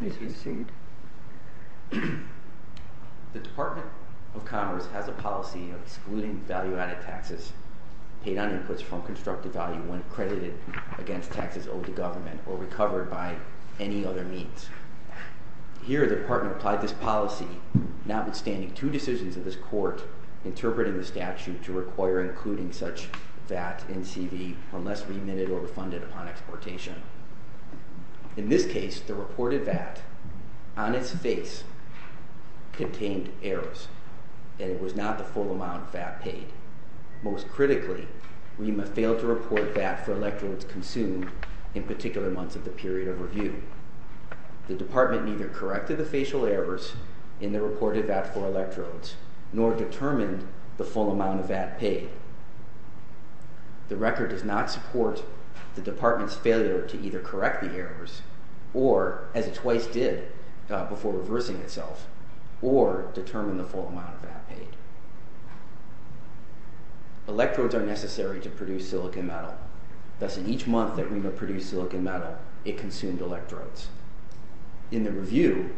The Department of Commerce has a policy of excluding value-added taxes, paid-on-inputs from constructive value when credited against taxes owed to government, or recovered by any other means. Here, the Department applied this policy, notwithstanding two decisions of this Court interpreting the statute to require including such VAT and CV unless remitted or refunded upon exportation. In this case, the reported VAT, on its face, contained errors, and it was not the full amount VAT paid. Most critically, REMA failed to report VAT for electrodes consumed in particular months of the period of review. The Department neither corrected the facial errors in the reported VAT for electrodes, nor determined the full amount of VAT paid. The record does not support the Department's failure to either correct the errors, or, as it twice did before reversing itself, or determine the full amount of VAT paid. Electrodes are necessary to produce silicon metal. Thus, in each month that REMA produced silicon metal, it consumed electrodes. In the review,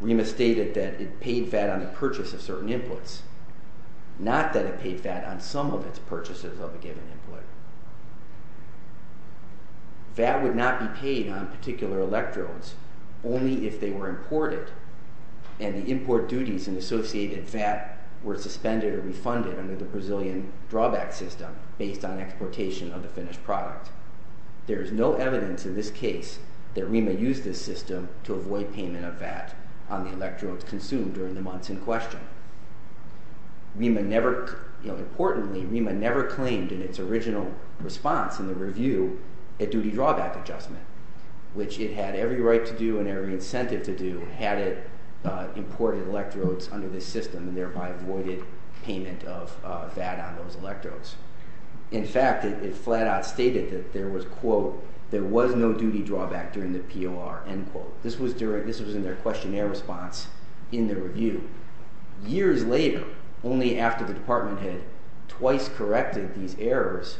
REMA stated that it paid VAT on the purchase of certain inputs, not that it paid VAT on some of its purchases of a given input. VAT would not be paid on particular electrodes only if they were imported, and the import duties and associated VAT were suspended or refunded under the Brazilian drawback system based on exportation of the finished product. There is no evidence in this case that REMA used this system to avoid payment of VAT on the electrodes consumed during the months in question. Importantly, REMA never claimed in its original response in the review a duty drawback adjustment, which it had every right to do and every incentive to do had it imported electrodes under this system and thereby avoided payment of VAT on those electrodes. In fact, it flat out stated that there was, quote, there was no duty drawback during the POR, end quote. This was in their questionnaire response in the review. Years later, only after the department had twice corrected these errors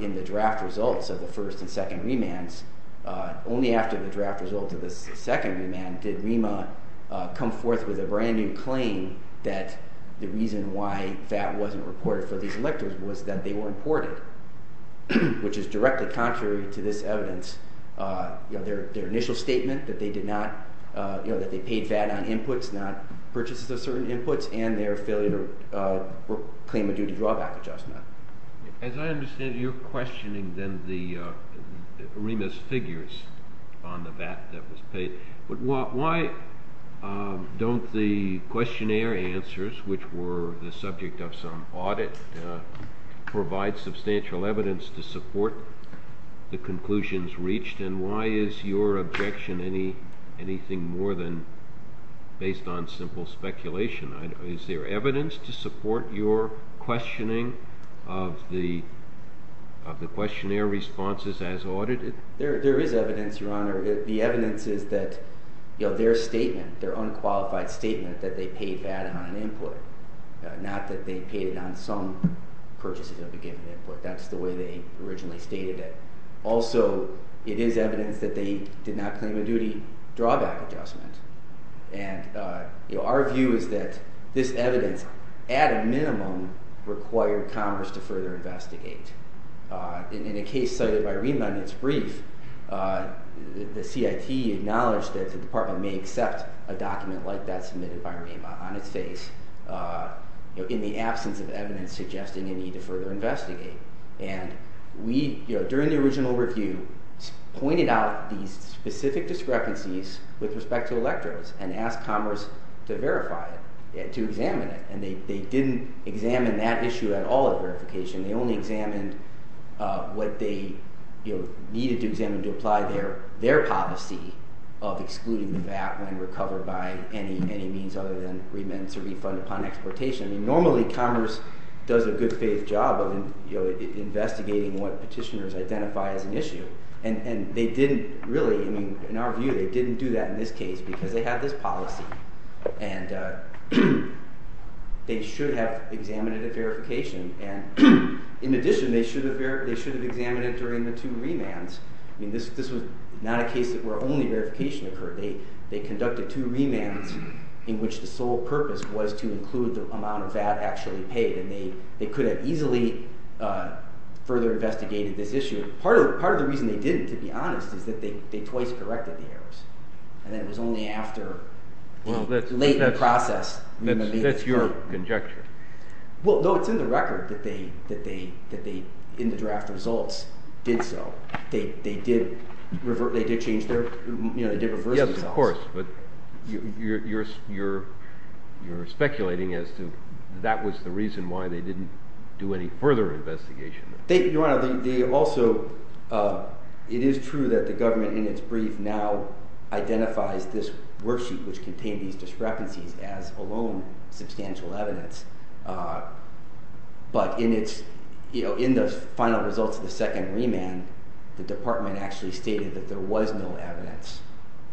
in the draft results of the first and second remands, only after the draft results of the second remand did REMA come forth with a brand new claim that the reason why VAT wasn't reported for these electrodes was that they were imported, which is directly contrary to this evidence. You know, their initial statement that they did not, you know, that they paid VAT on inputs, not purchases of certain inputs, and their failure to claim a duty drawback adjustment. As I understand it, you're questioning then the REMA's questionnaire answers, which were the subject of some audit, provide substantial evidence to support the conclusions reached, and why is your objection anything more than based on simple speculation? Is there evidence to support your questioning of the questionnaire responses as audited? There is evidence, Your Honor. The evidence is that, you know, their statement, their unqualified statement that they paid VAT on an input, not that they paid it on some purchases of a given input. That's the way they originally stated it. Also, it is evidence that they did not claim a duty drawback adjustment, and our view is that this evidence, at a minimum, required Congress to further investigate. In a case cited by REMA in its brief, the CIT acknowledged that the Department may accept a document like that submitted by REMA on its face, you know, in the absence of evidence suggesting a need to further investigate, and we, you know, during the original review, pointed out these specific discrepancies with respect to electrodes and asked Congress to verify it, to examine it, and they didn't examine that issue at all at verification. They only examined what they, you know, needed to examine to apply their policy of excluding the VAT when recovered by any means other than remand to refund upon exportation. Normally, Congress does a good faith job of investigating what petitioners identify as an issue, and they didn't really, I mean, in our view, they didn't do that in this case because they had this policy, and they should have examined it at verification, and in addition, they should have examined it during the two remands. I mean, this was not a case where only verification occurred. They conducted two remands in which the sole purpose was to include the amount of VAT actually paid, and they could have easily further investigated this issue. Part of the reason they didn't, to be honest, is that they twice corrected the errors, and it was only after a latent process. That's your conjecture. Well, no, it's in the record that they, in the draft results, did so. They did reverse themselves. Yes, of course, but you're speculating as to that was the reason why they didn't do any further investigation. Your Honor, they also, it is true that the government in its brief now identifies this as its own substantial evidence, but in the final results of the second remand, the department actually stated that there was no evidence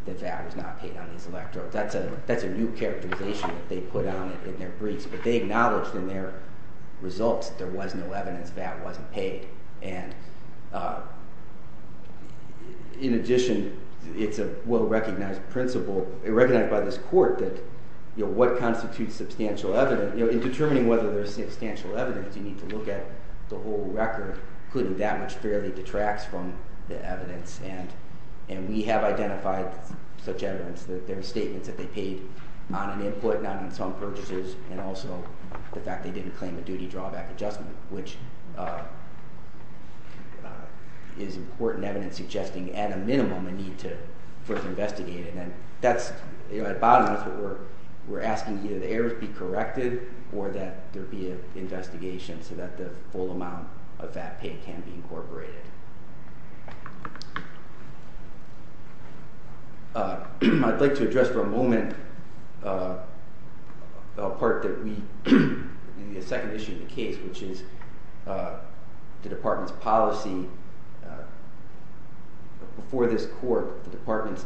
that VAT was not paid on these electrodes. That's a new characterization that they put on it in their briefs, but they acknowledged in their results that there was no evidence that VAT wasn't paid, and in addition, it's a well-recognized principle, recognized by this court, that what constitutes substantial evidence, in determining whether there's substantial evidence, you need to look at the whole record, including that much fairly detracts from the evidence, and we have identified such evidence that there are statements that they paid on an input, not on some purchases, and also the fact they didn't claim a duty drawback adjustment, which is important evidence suggesting at a minimum a need to further investigate it, and that's, you know, at the bottom of it, we're asking either the errors be corrected, or that there be an investigation so that the full amount of VAT paid can be incorporated. I'd like to address for a moment a part that we, the second issue of the case, which is the department's policy, before this court, the department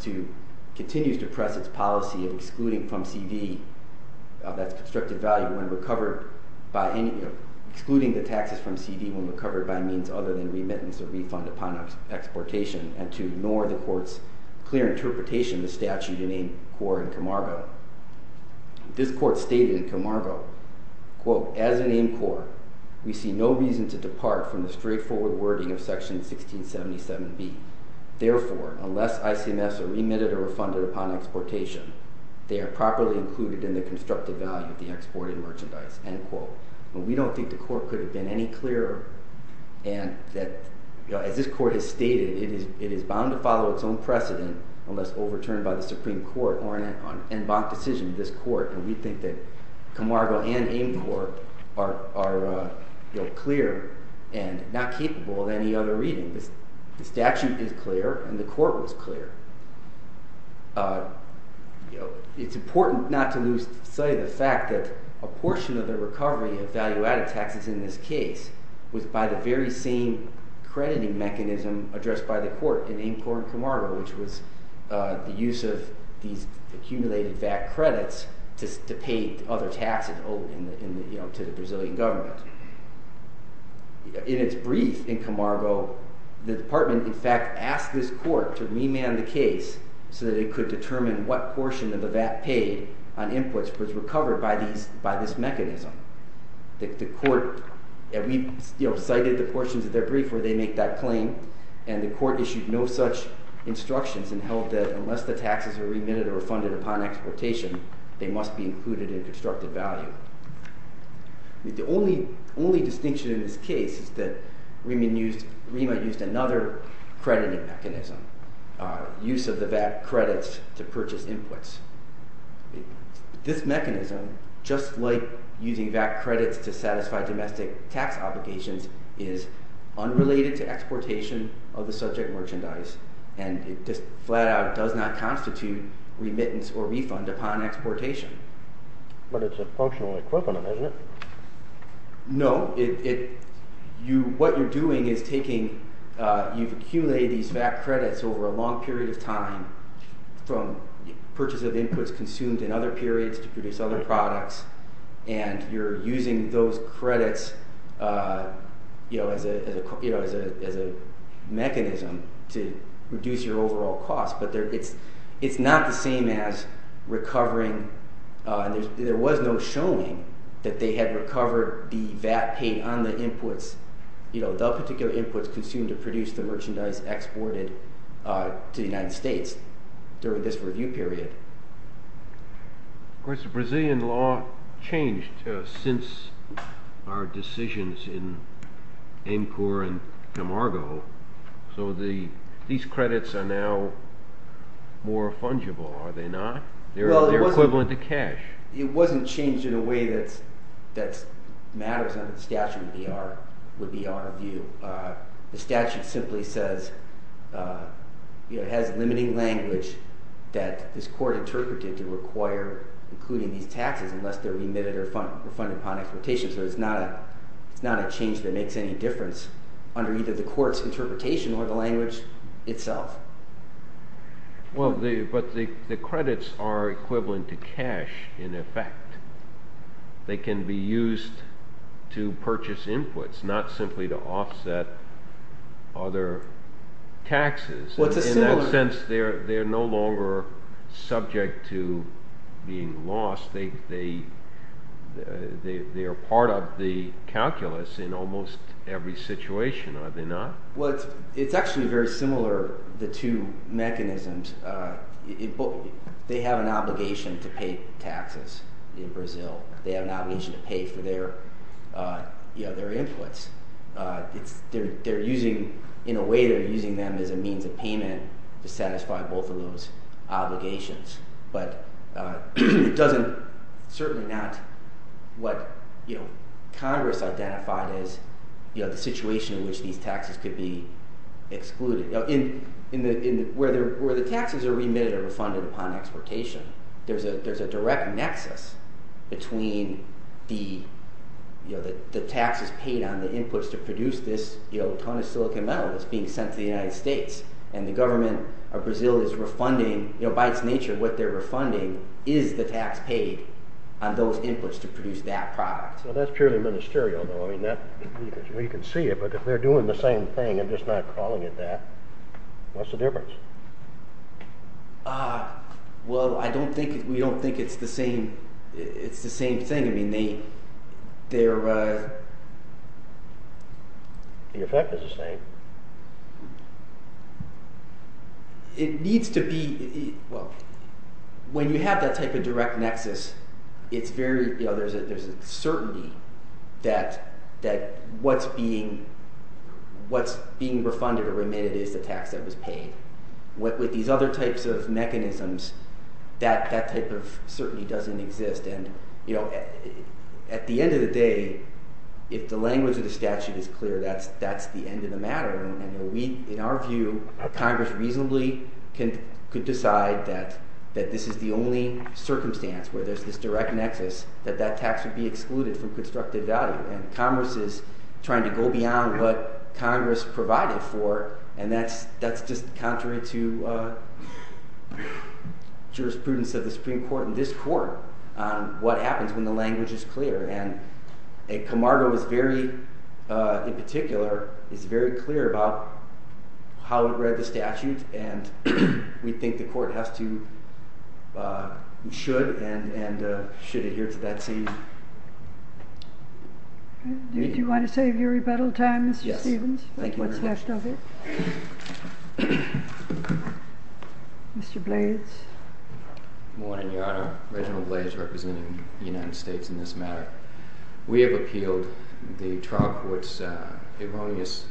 continues to press its policy of excluding from CV, that's constructive value, when recovered by any, excluding the taxes from CV when recovered by means other than remittance or refund upon exportation, and to ignore the court's clear interpretation of the statute in AIMCOR and Comargo. This court stated in Comargo, quote, as in AIMCOR, we see no reason to depart from the straightforward wording of section 1677B. Therefore, unless ICMS are remitted or refunded upon exportation, they are properly included in the constructive value of the export and merchandise, end quote. We don't think the court could have been any clearer, and that as this court has stated, it is bound to follow its own precedent unless overturned by the decision of this court, and we think that Comargo and AIMCOR are clear and not capable of any other reading. The statute is clear, and the court was clear. It's important not to lose sight of the fact that a portion of the recovery of value-added taxes in this case was by the very same crediting mechanism addressed by the court in AIMCOR and Comargo, which was the use of these accumulated VAT credits to pay other taxes to the Brazilian government. In its brief in Comargo, the department, in fact, asked this court to remand the case so that it could determine what portion of the VAT paid on inputs was recovered by this mechanism. The court, and we cited the portions of their brief where they make that claim, and the court issued no such instructions and held that unless the taxes were remitted or refunded upon exportation, they must be included in constructed value. The only distinction in this case is that REMA used another crediting mechanism, use of the VAT credits to purchase inputs. This mechanism, just like using VAT credits to export, is related to exportation of the subject merchandise, and it just flat out does not constitute remittance or refund upon exportation. But it's a functional equivalent, isn't it? No. What you're doing is taking, you've accumulated these VAT credits over a long period of time from purchases of inputs consumed in other periods to produce other products, and you're using those credits, you know, as a mechanism to reduce your overall cost, but it's not the same as recovering, there was no showing that they had recovered the VAT paid on the inputs, you know, the particular inputs consumed to produce the merchandise exported to the United States during this review period. Of course, the Brazilian law changed since our decisions in AMCOR and EMARGO, so these credits are now more fungible, are they not? They're equivalent to cash. It wasn't changed in a way that matters under the statute, would be our view. The statute simply says, you know, it has limiting language that this court interpreted to require including these taxes unless they're remitted or refunded upon exportation, so it's not a change that makes any difference under either the court's interpretation or the language itself. Well, but the credits are equivalent to cash, in effect. They can be used to purchase inputs, not simply to offset other taxes. In that sense, they're no longer subject to being lost, they are part of the calculus in almost every situation, are they not? Well, it's actually very similar, the two mechanisms. They have an obligation to pay taxes in Brazil. They have an obligation to pay for their inputs. In a way, they're using them as a means of payment to satisfy both of those obligations, but it doesn't, certainly not what Congress identified as the situation in which these taxes could be excluded. Where the taxes are remitted or refunded upon exportation, there's a direct nexus between the taxes paid on the inputs to produce this ton of silicon metal that's being sent to the United States and the government of Brazil is refunding, by its nature, what they're refunding is the tax paid on those inputs to produce that product. Well, that's purely ministerial, though. You can see it, but if they're doing the same thing and just not calling it that, what's the difference? Well, we don't think it's the same thing. The effect is the same. When you have that type of direct nexus, there's a certainty that what's being refunded or remitted is the tax that was paid. With these other types of mechanisms, that type of certainty doesn't exist. At the end of the day, if the language of the statute is clear, that's the end of the matter. In our view, Congress reasonably could decide that this is the only circumstance where there's this direct nexus that that tax would be excluded from constructive value. Congress is trying to go beyond what Congress provided for and that's just contrary to jurisprudence of the Supreme Court and this Court on what happens when the language is clear. Camargo, in particular, is very clear about how it read the statute and we think the Court should adhere to that scene. Do you want to save your rebuttal time, Mr. Stephens? Yes. What's left of it. Mr. Blades. Good morning, Your Honor. Reginald Blades representing the United States in this matter. We have appealed the trial court's erroneous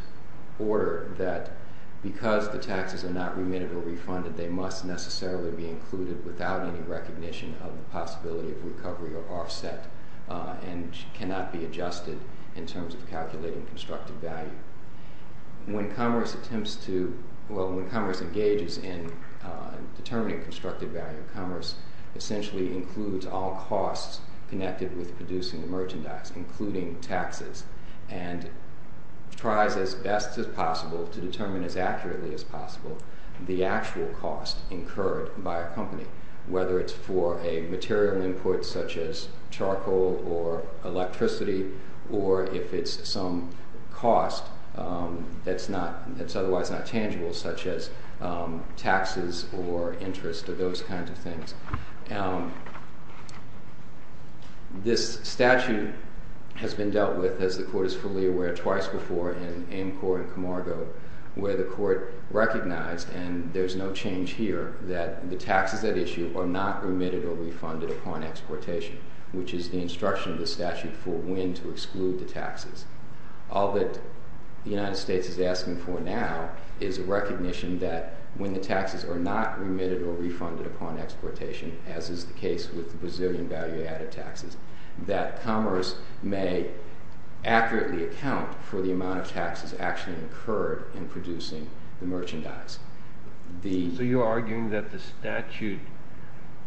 order that because the taxes are not remitted or refunded, they must necessarily be included without any recognition of the possibility of recovery or offset and cannot be adjusted in terms of calculating constructive value. When Congress attempts to, well, when Congress engages in determining constructive value, Congress essentially includes all costs connected with producing the merchandise, including taxes, and tries as best as possible to determine as accurately as possible the actual cost incurred by a company, whether it's for a material input such as charcoal or electricity or if it's some cost that's otherwise not tangible such as taxes or interest or those kinds of things. This statute has been dealt with, as the court is fully aware, twice before in Amcor and Camargo where the court recognized, and there's no change here, that the taxes at issue are not remitted or refunded upon exportation, which is the instruction of the statute for when to exclude the taxes. All that the United States is asking for now is a recognition that when the taxes are not remitted or refunded upon exportation, as is the case with the Brazilian value-added taxes, that commerce may accurately account for the amount of taxes actually incurred in producing the merchandise. So you're arguing that the statute,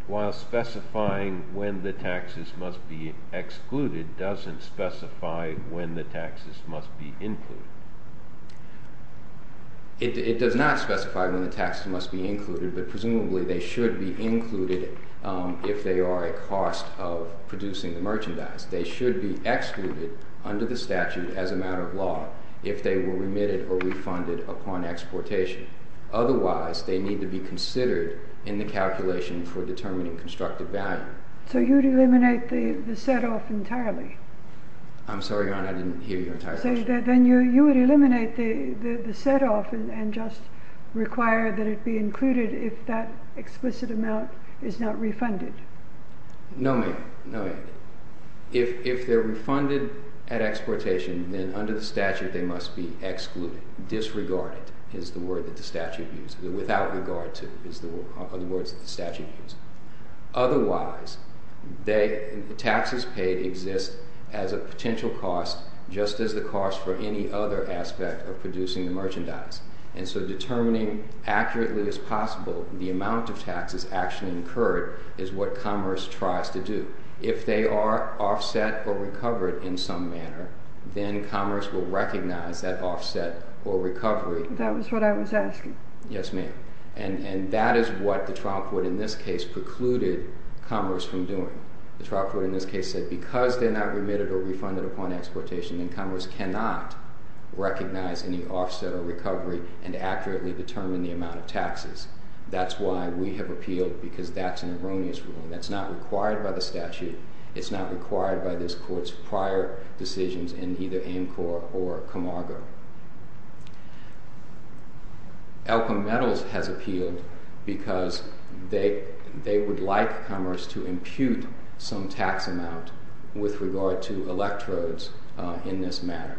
while specifying when the taxes must be excluded, doesn't specify when the taxes must be included? It does not specify when the taxes must be included, but presumably they should be included if they are a cost of producing the merchandise. They should be excluded under the statute as a matter of law if they were remitted or refunded upon exportation. Otherwise, they need to be considered in the calculation for determining constructive value. So you'd eliminate the set-off entirely? I'm sorry, Your Honor, I didn't hear your entire question. So then you would eliminate the set-off and just require that it be included if that explicit amount is not refunded? No, ma'am. If they're refunded at exportation, then under the statute they must be excluded. Disregarded is the word that the statute uses. Without regard to is the words that the statute uses. Otherwise, the taxes paid exist as a potential cost just as the cost for any other aspect of producing the merchandise. And so determining accurately as possible the amount of taxes actually incurred is what Commerce tries to do. If they are offset or recovered in some manner, then Commerce will recognize that offset or recovery. That was what I was asking. Yes, ma'am. And that is what the trial court in this case precluded Commerce from doing. The trial court in this case said that because they're not remitted or refunded upon exportation, then Commerce cannot recognize any offset or recovery and accurately determine the amount of taxes. That's why we have appealed because that's an erroneous ruling. That's not required by the statute. It's not required by this court's prior decisions in either Amcor or Camargo. Elka Metals has appealed because they would like Commerce to impute some tax amount with regard to electrodes in this matter.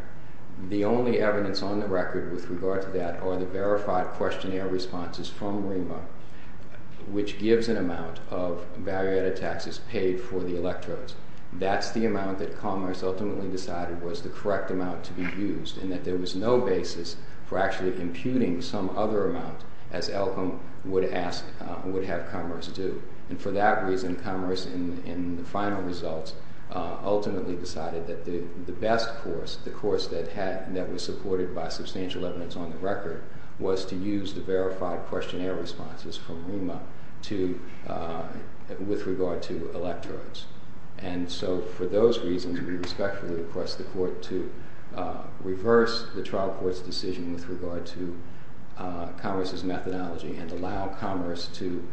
The only evidence on the record with regard to that are the verified questionnaire responses from REMA which gives an amount of value-added taxes paid for the electrodes. That's the amount that Commerce ultimately decided was the correct amount to be used and that there was no basis for actually imputing some other amount as Elkam would have Commerce do. For that reason, Commerce, in the final results, ultimately decided that the best course, the course that was supported by substantial evidence on the record, was to use the verified questionnaire responses from REMA with regard to electrodes. For those reasons, we respectfully request the court to reverse the trial court's decision with regard to Commerce's methodology and allow Commerce to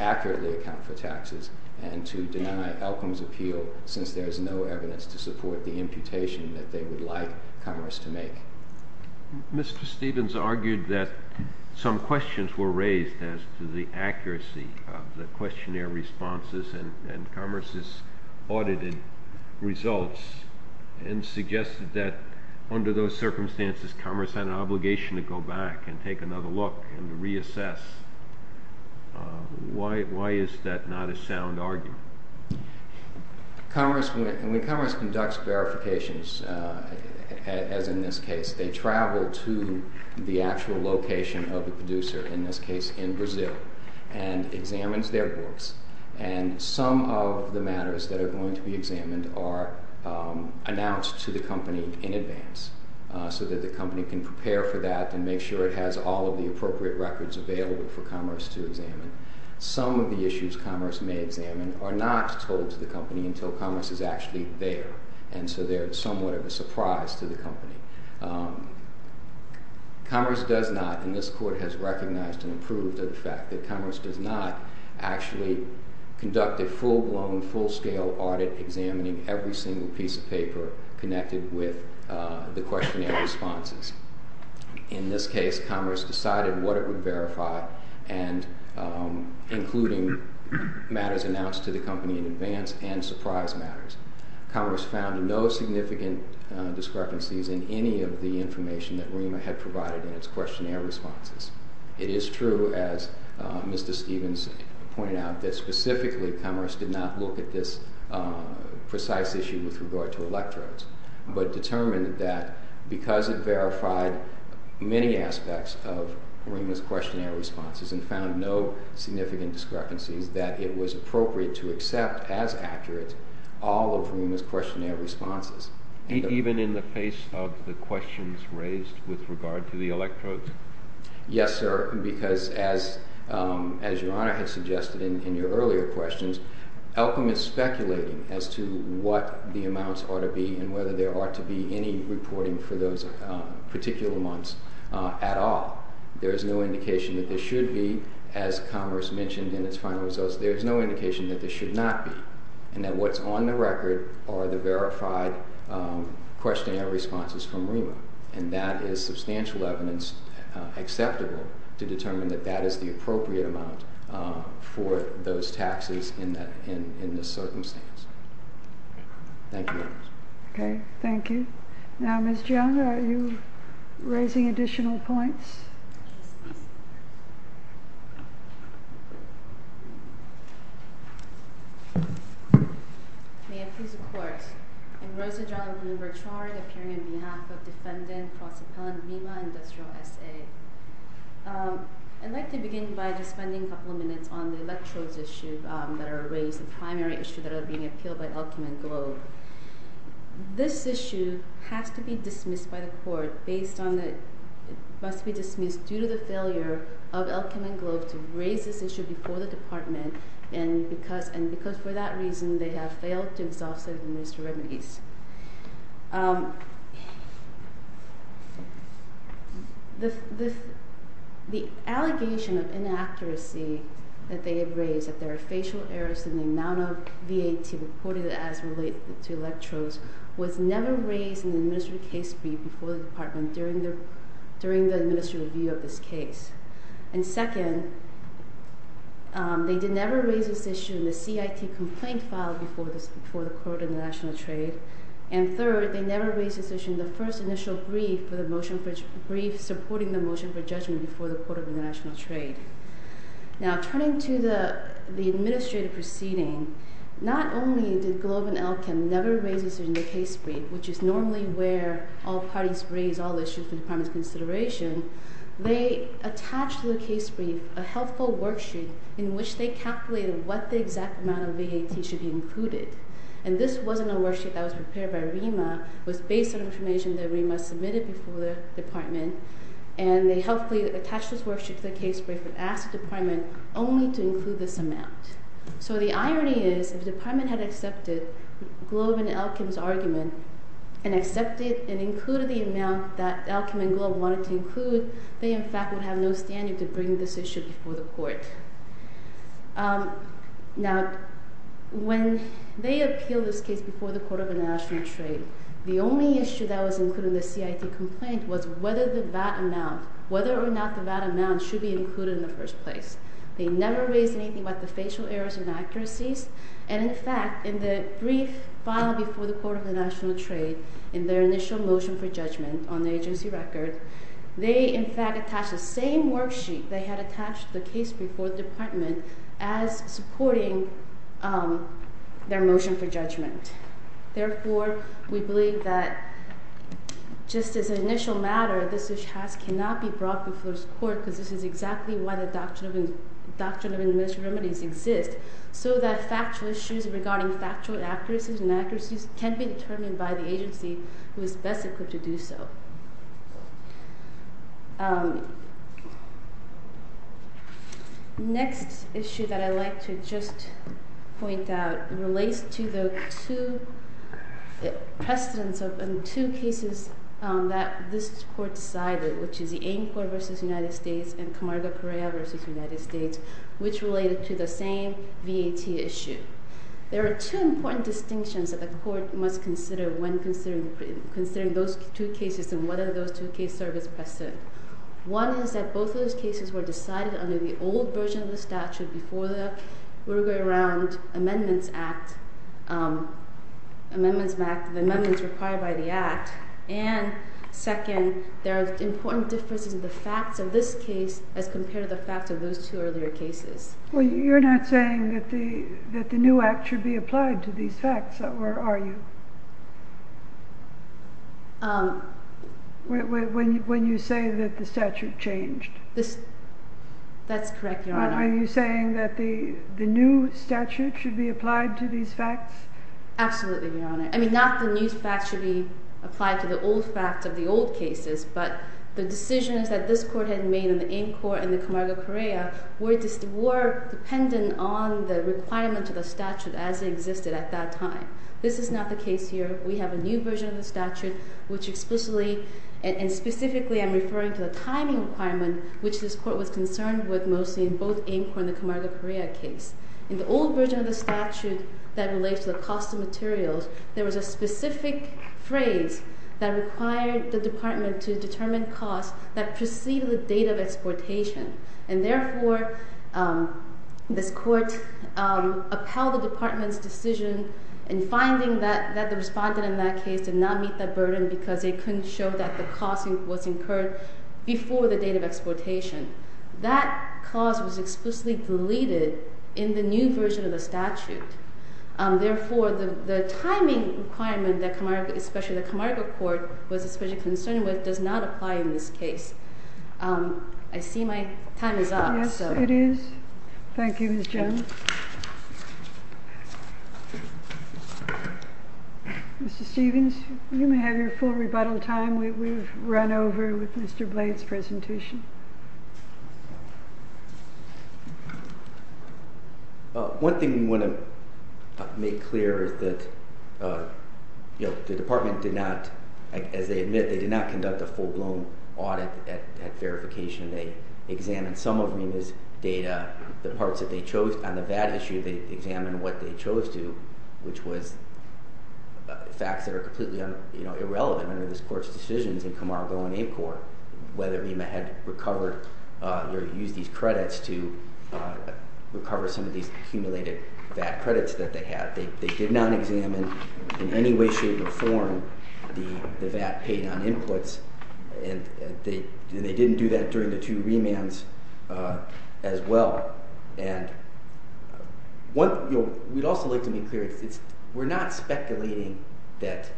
accurately account for taxes and to deny Elkam's appeal since there is no evidence to support the imputation that they would like Commerce to make. Mr. Stevens argued that some questions were raised as to the accuracy of the questionnaire responses and Commerce's audited results and suggested that under those circumstances Commerce had an obligation to go back and take another look and reassess. Why is that not a sound argument? When Commerce conducts verifications as in this case, they travel to the actual location of the producer in this case in Brazil and examines their books and some of the matters that are going to be examined are announced to the company in advance so that the company can prepare for that and make sure it has all of the appropriate records available for Commerce to examine. Some of the issues Commerce may examine are not told to the company until Commerce is actually there and so they are somewhat of a surprise to the company. Commerce does not and this court has recognized and approved of the fact that Commerce does not actually conduct a full blown full scale audit examining every single piece of paper connected with the questionnaire responses. In this case Commerce decided what it would verify and including matters announced to the company in advance and surprise matters. Commerce found no significant discrepancies in any of the information that REMA had provided in its questionnaire responses. It is true as Mr. Stevens pointed out that specifically Commerce did not look at this precise issue with regard to electrodes but determined that because it verified many aspects of REMA's questionnaire responses and found no significant discrepancies that it was appropriate to accept as accurate all of REMA's questionnaire responses. Even in the face of the questions raised with regard to the electrodes? Yes sir because as your Honor had suggested in your earlier questions Elkham is speculating as to what the amounts ought to be and whether there ought to be any reporting for those particular months at all. There is no indication that there should be as Commerce mentioned in its final results there is no indication that there should not be and that what's on the record are the verified questionnaire responses from REMA and that is substantial evidence acceptable to determine that that is the appropriate amount for those taxes in this circumstance. Thank you Your Honor. Okay. Thank you. Now Ms. Jung are you raising additional points? May it please the Court I'm Rosa Jung of Bloomberg Charter appearing on behalf of defendant Prosecutor Mima Industrial SA I'd like to begin by just spending a couple of minutes on the electrodes issue that are raised the primary issue that are being appealed by Elkham and Globe This issue has to be dismissed by the Court based on that it must be dismissed due to the failure of Elkham and Globe to raise this issue before the Department and because for that reason they have failed to absolve the Minister of Remedies The allegation of inaccuracy that they have raised that there are facial errors in the amount of VAT reported as related to electrodes was never raised in the administrative case brief before the Department during the administrative review of this case and second they did never raise this issue in the CIT complaint file before the Court of International Trade and third they never raised this issue in the first initial brief supporting the motion for judgment before the Court of International Trade Now turning to the administrative proceeding not only did Globe and Elkham never raise this issue in the case brief which is normally where all parties raise all issues for the Department's consideration they attached to the case brief a health code worksheet in which they calculated what the exact amount of VAT should be included and this wasn't a worksheet that was prepared by RIMA it was based on information that RIMA submitted before the Department and they helpfully attached this worksheet to the case brief and asked the Department only to include this amount so the irony is if the Department had accepted Globe and Elkham's argument and accepted and included the amount that Elkham and Globe wanted to include, they in fact would have no standard to bring this issue before the Court Now when they appealed this case before the Court of International Trade the only issue that was included in the CIT complaint was whether the VAT amount whether or not the VAT amount should be included in the first place. They never raised anything about the facial errors and inaccuracies and in fact in the brief filed before the Court of International Trade in their initial motion for judgment on the agency record they in fact attached the same worksheet they had attached to the case before the Department as supporting their motion for judgment. Therefore we believe that just as an initial matter this issue cannot be brought before the Court because this is exactly why the Doctrine of Administrative Remedies exist so that factual issues regarding factual inaccuracies can be determined by the agency who is best equipped to do so Next issue that I'd like to just point out relates to the two precedents of two cases that this Court decided which is the AIM Court vs. United States and Camargo Correa vs. United States which related to the same VAT issue There are two important distinctions that the Court must consider when considering those two cases and whether those two cases serve as precedents One is that both of those cases were decided under the old version of the statute before the Amendment Act Amendments Act Amendments required by the Act and second there are important differences in the facts of this case as compared to the facts of those two earlier cases You're not saying that the new Act should be applied to these facts are you? Um When you say that the statute changed That's correct Your Honor Are you saying that the new statute should be applied to these facts Absolutely Your Honor I mean not the new facts should be applied to the old facts of the old cases but the decisions that this Court had made in the AIM Court and the Camargo Correa were dependent on the requirement of the statute as it existed at that time This is not the case here We have a new version of the statute which explicitly and specifically I'm referring to the timing requirement which this Court was concerned with mostly in both AIM Court and the Camargo Correa case In the old version of the statute that relates to the cost of materials there was a specific phrase that required the Department to determine costs that preceded the date of exportation and therefore this Court upheld the Department's decision in finding that the respondent in that case did not meet that burden because they couldn't show that the cost was incurred before the date of exportation That clause was explicitly deleted in the new version of the statute Therefore the timing requirement that the Camargo Court was especially concerned with does not apply in this case I see my time is up Yes it is Thank you Ms. Jones Mr. Stevens you may have your full rebuttal time we've run over with Mr. Blade's presentation One thing we want to make clear is that the Department did not as they admit they did not conduct a full blown audit at verification they examined some of Rima's data, the parts that they chose on the VAT issue they examined what they chose to which was facts that are completely irrelevant under this Court's decisions in Camargo and ACORN whether Rima had recovered or used these credits to recover some of these accumulated VAT credits that they had they did not examine in any way, shape or form the VAT paid on inputs and they didn't do that during the two remands as well and we'd also like to be clear we're not speculating that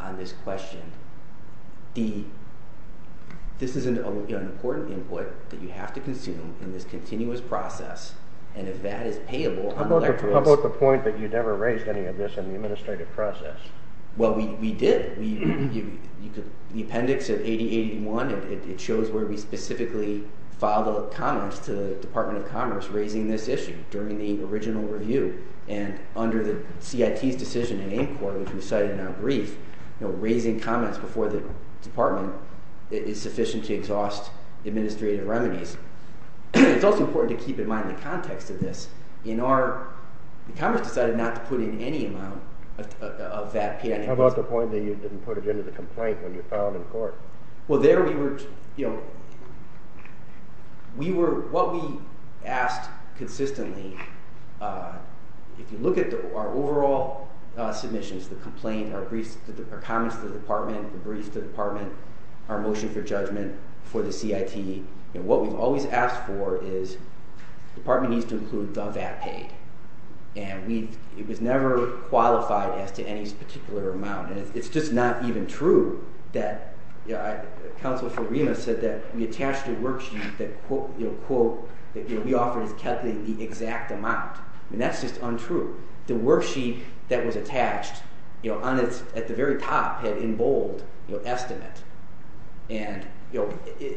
on this question this is an important input that you have to consume in this continuous process and if that is payable How about the point that you never raised any of this in the administrative process well we did the appendix of 8081 it shows where we specifically filed comments to the Department of Commerce raising this issue during the original review and under the CIT's decision in AIMCOR which we cited in our brief raising comments before the department is sufficient to exhaust administrative remedies it's also important to keep in mind the context of this the Commerce decided not to put in any amount of VAT How about the point that you didn't put it into the complaint when you filed in court well there we were we were what we asked consistently if you look at our overall submissions the complaint our comments to the department our motion for judgment for the CIT what we've always asked for is the department needs to include the VAT paid and it was never qualified as to any particular amount and it's just not even true that Councilor Farima said that we attached a worksheet that quote that we offered as calculating the exact amount and that's just untrue the worksheet that was attached at the very top had in bold an estimate and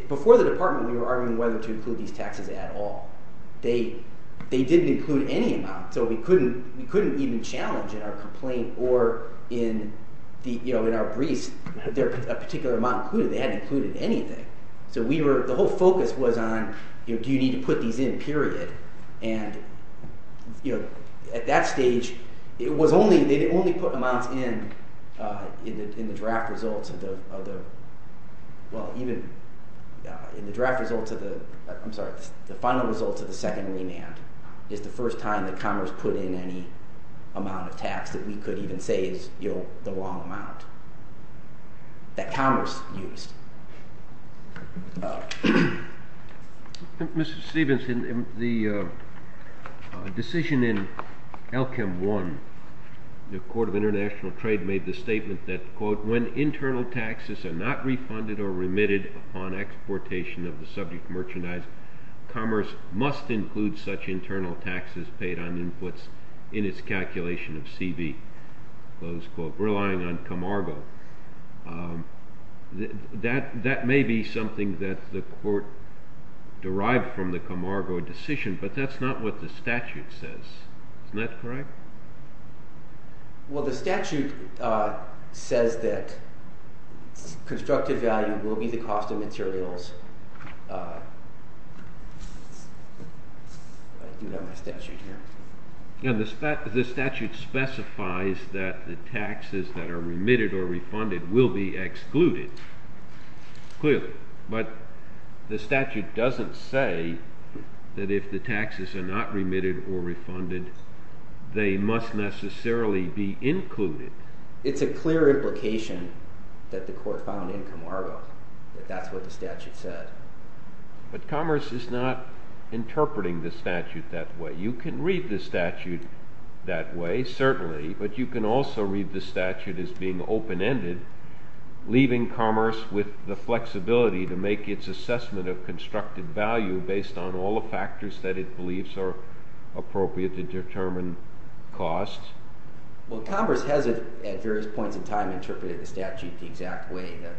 before the department we were arguing whether to include these taxes at all they didn't include any amount so we couldn't even challenge in our complaint or in our briefs a particular amount included they hadn't included anything the whole focus was on do you need to put these in period at that stage it was only they only put amounts in in the draft results well even in the draft results the final results of the second remand is the first time that Commerce put in any amount of tax that we could even say is the wrong amount that Commerce used Mr. Stephens the decision in LCM 1 the court of international trade made the statement that quote when internal taxes are not refunded or remitted upon exportation of the subject merchandise Commerce must include such internal taxes paid on inputs in its calculation of CB relying on Comargo that may be something that the court derived from the Comargo decision but that's not what the statute says isn't that correct well the statute says that constructive value will be the cost of materials the statute specifies that the taxes that are remitted or refunded will be excluded clearly but the statute doesn't say that if the taxes are not remitted or refunded they must necessarily be included it's a clear implication that the court found in Comargo that that's what the statute said but Commerce is not interpreting the statute that way you can read the statute that way certainly but you can also read the statute as being open ended leaving Commerce with the flexibility to make its assessment of constructive value based on all the factors that it believes are appropriate to determine costs well Commerce has at various points in time interpreted the statute the exact way that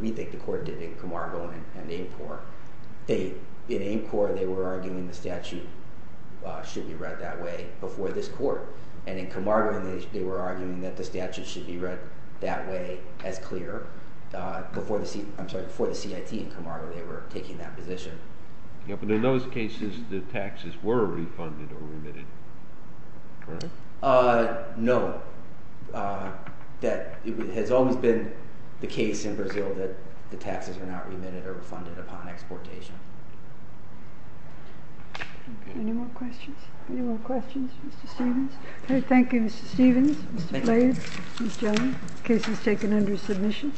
we think the court did in Comargo and AIMCOR in AIMCOR they were arguing the statute should be read that way before this court and in Comargo they were arguing that the statute should be read that way as clear before the CIT in Comargo they were taking that position but in those cases the taxes were refunded or remitted no that has always been the case in Brazil that the taxes are not remitted or refunded upon exportation any more questions Mr. Stephens thank you Mr. Stephens cases taken under submission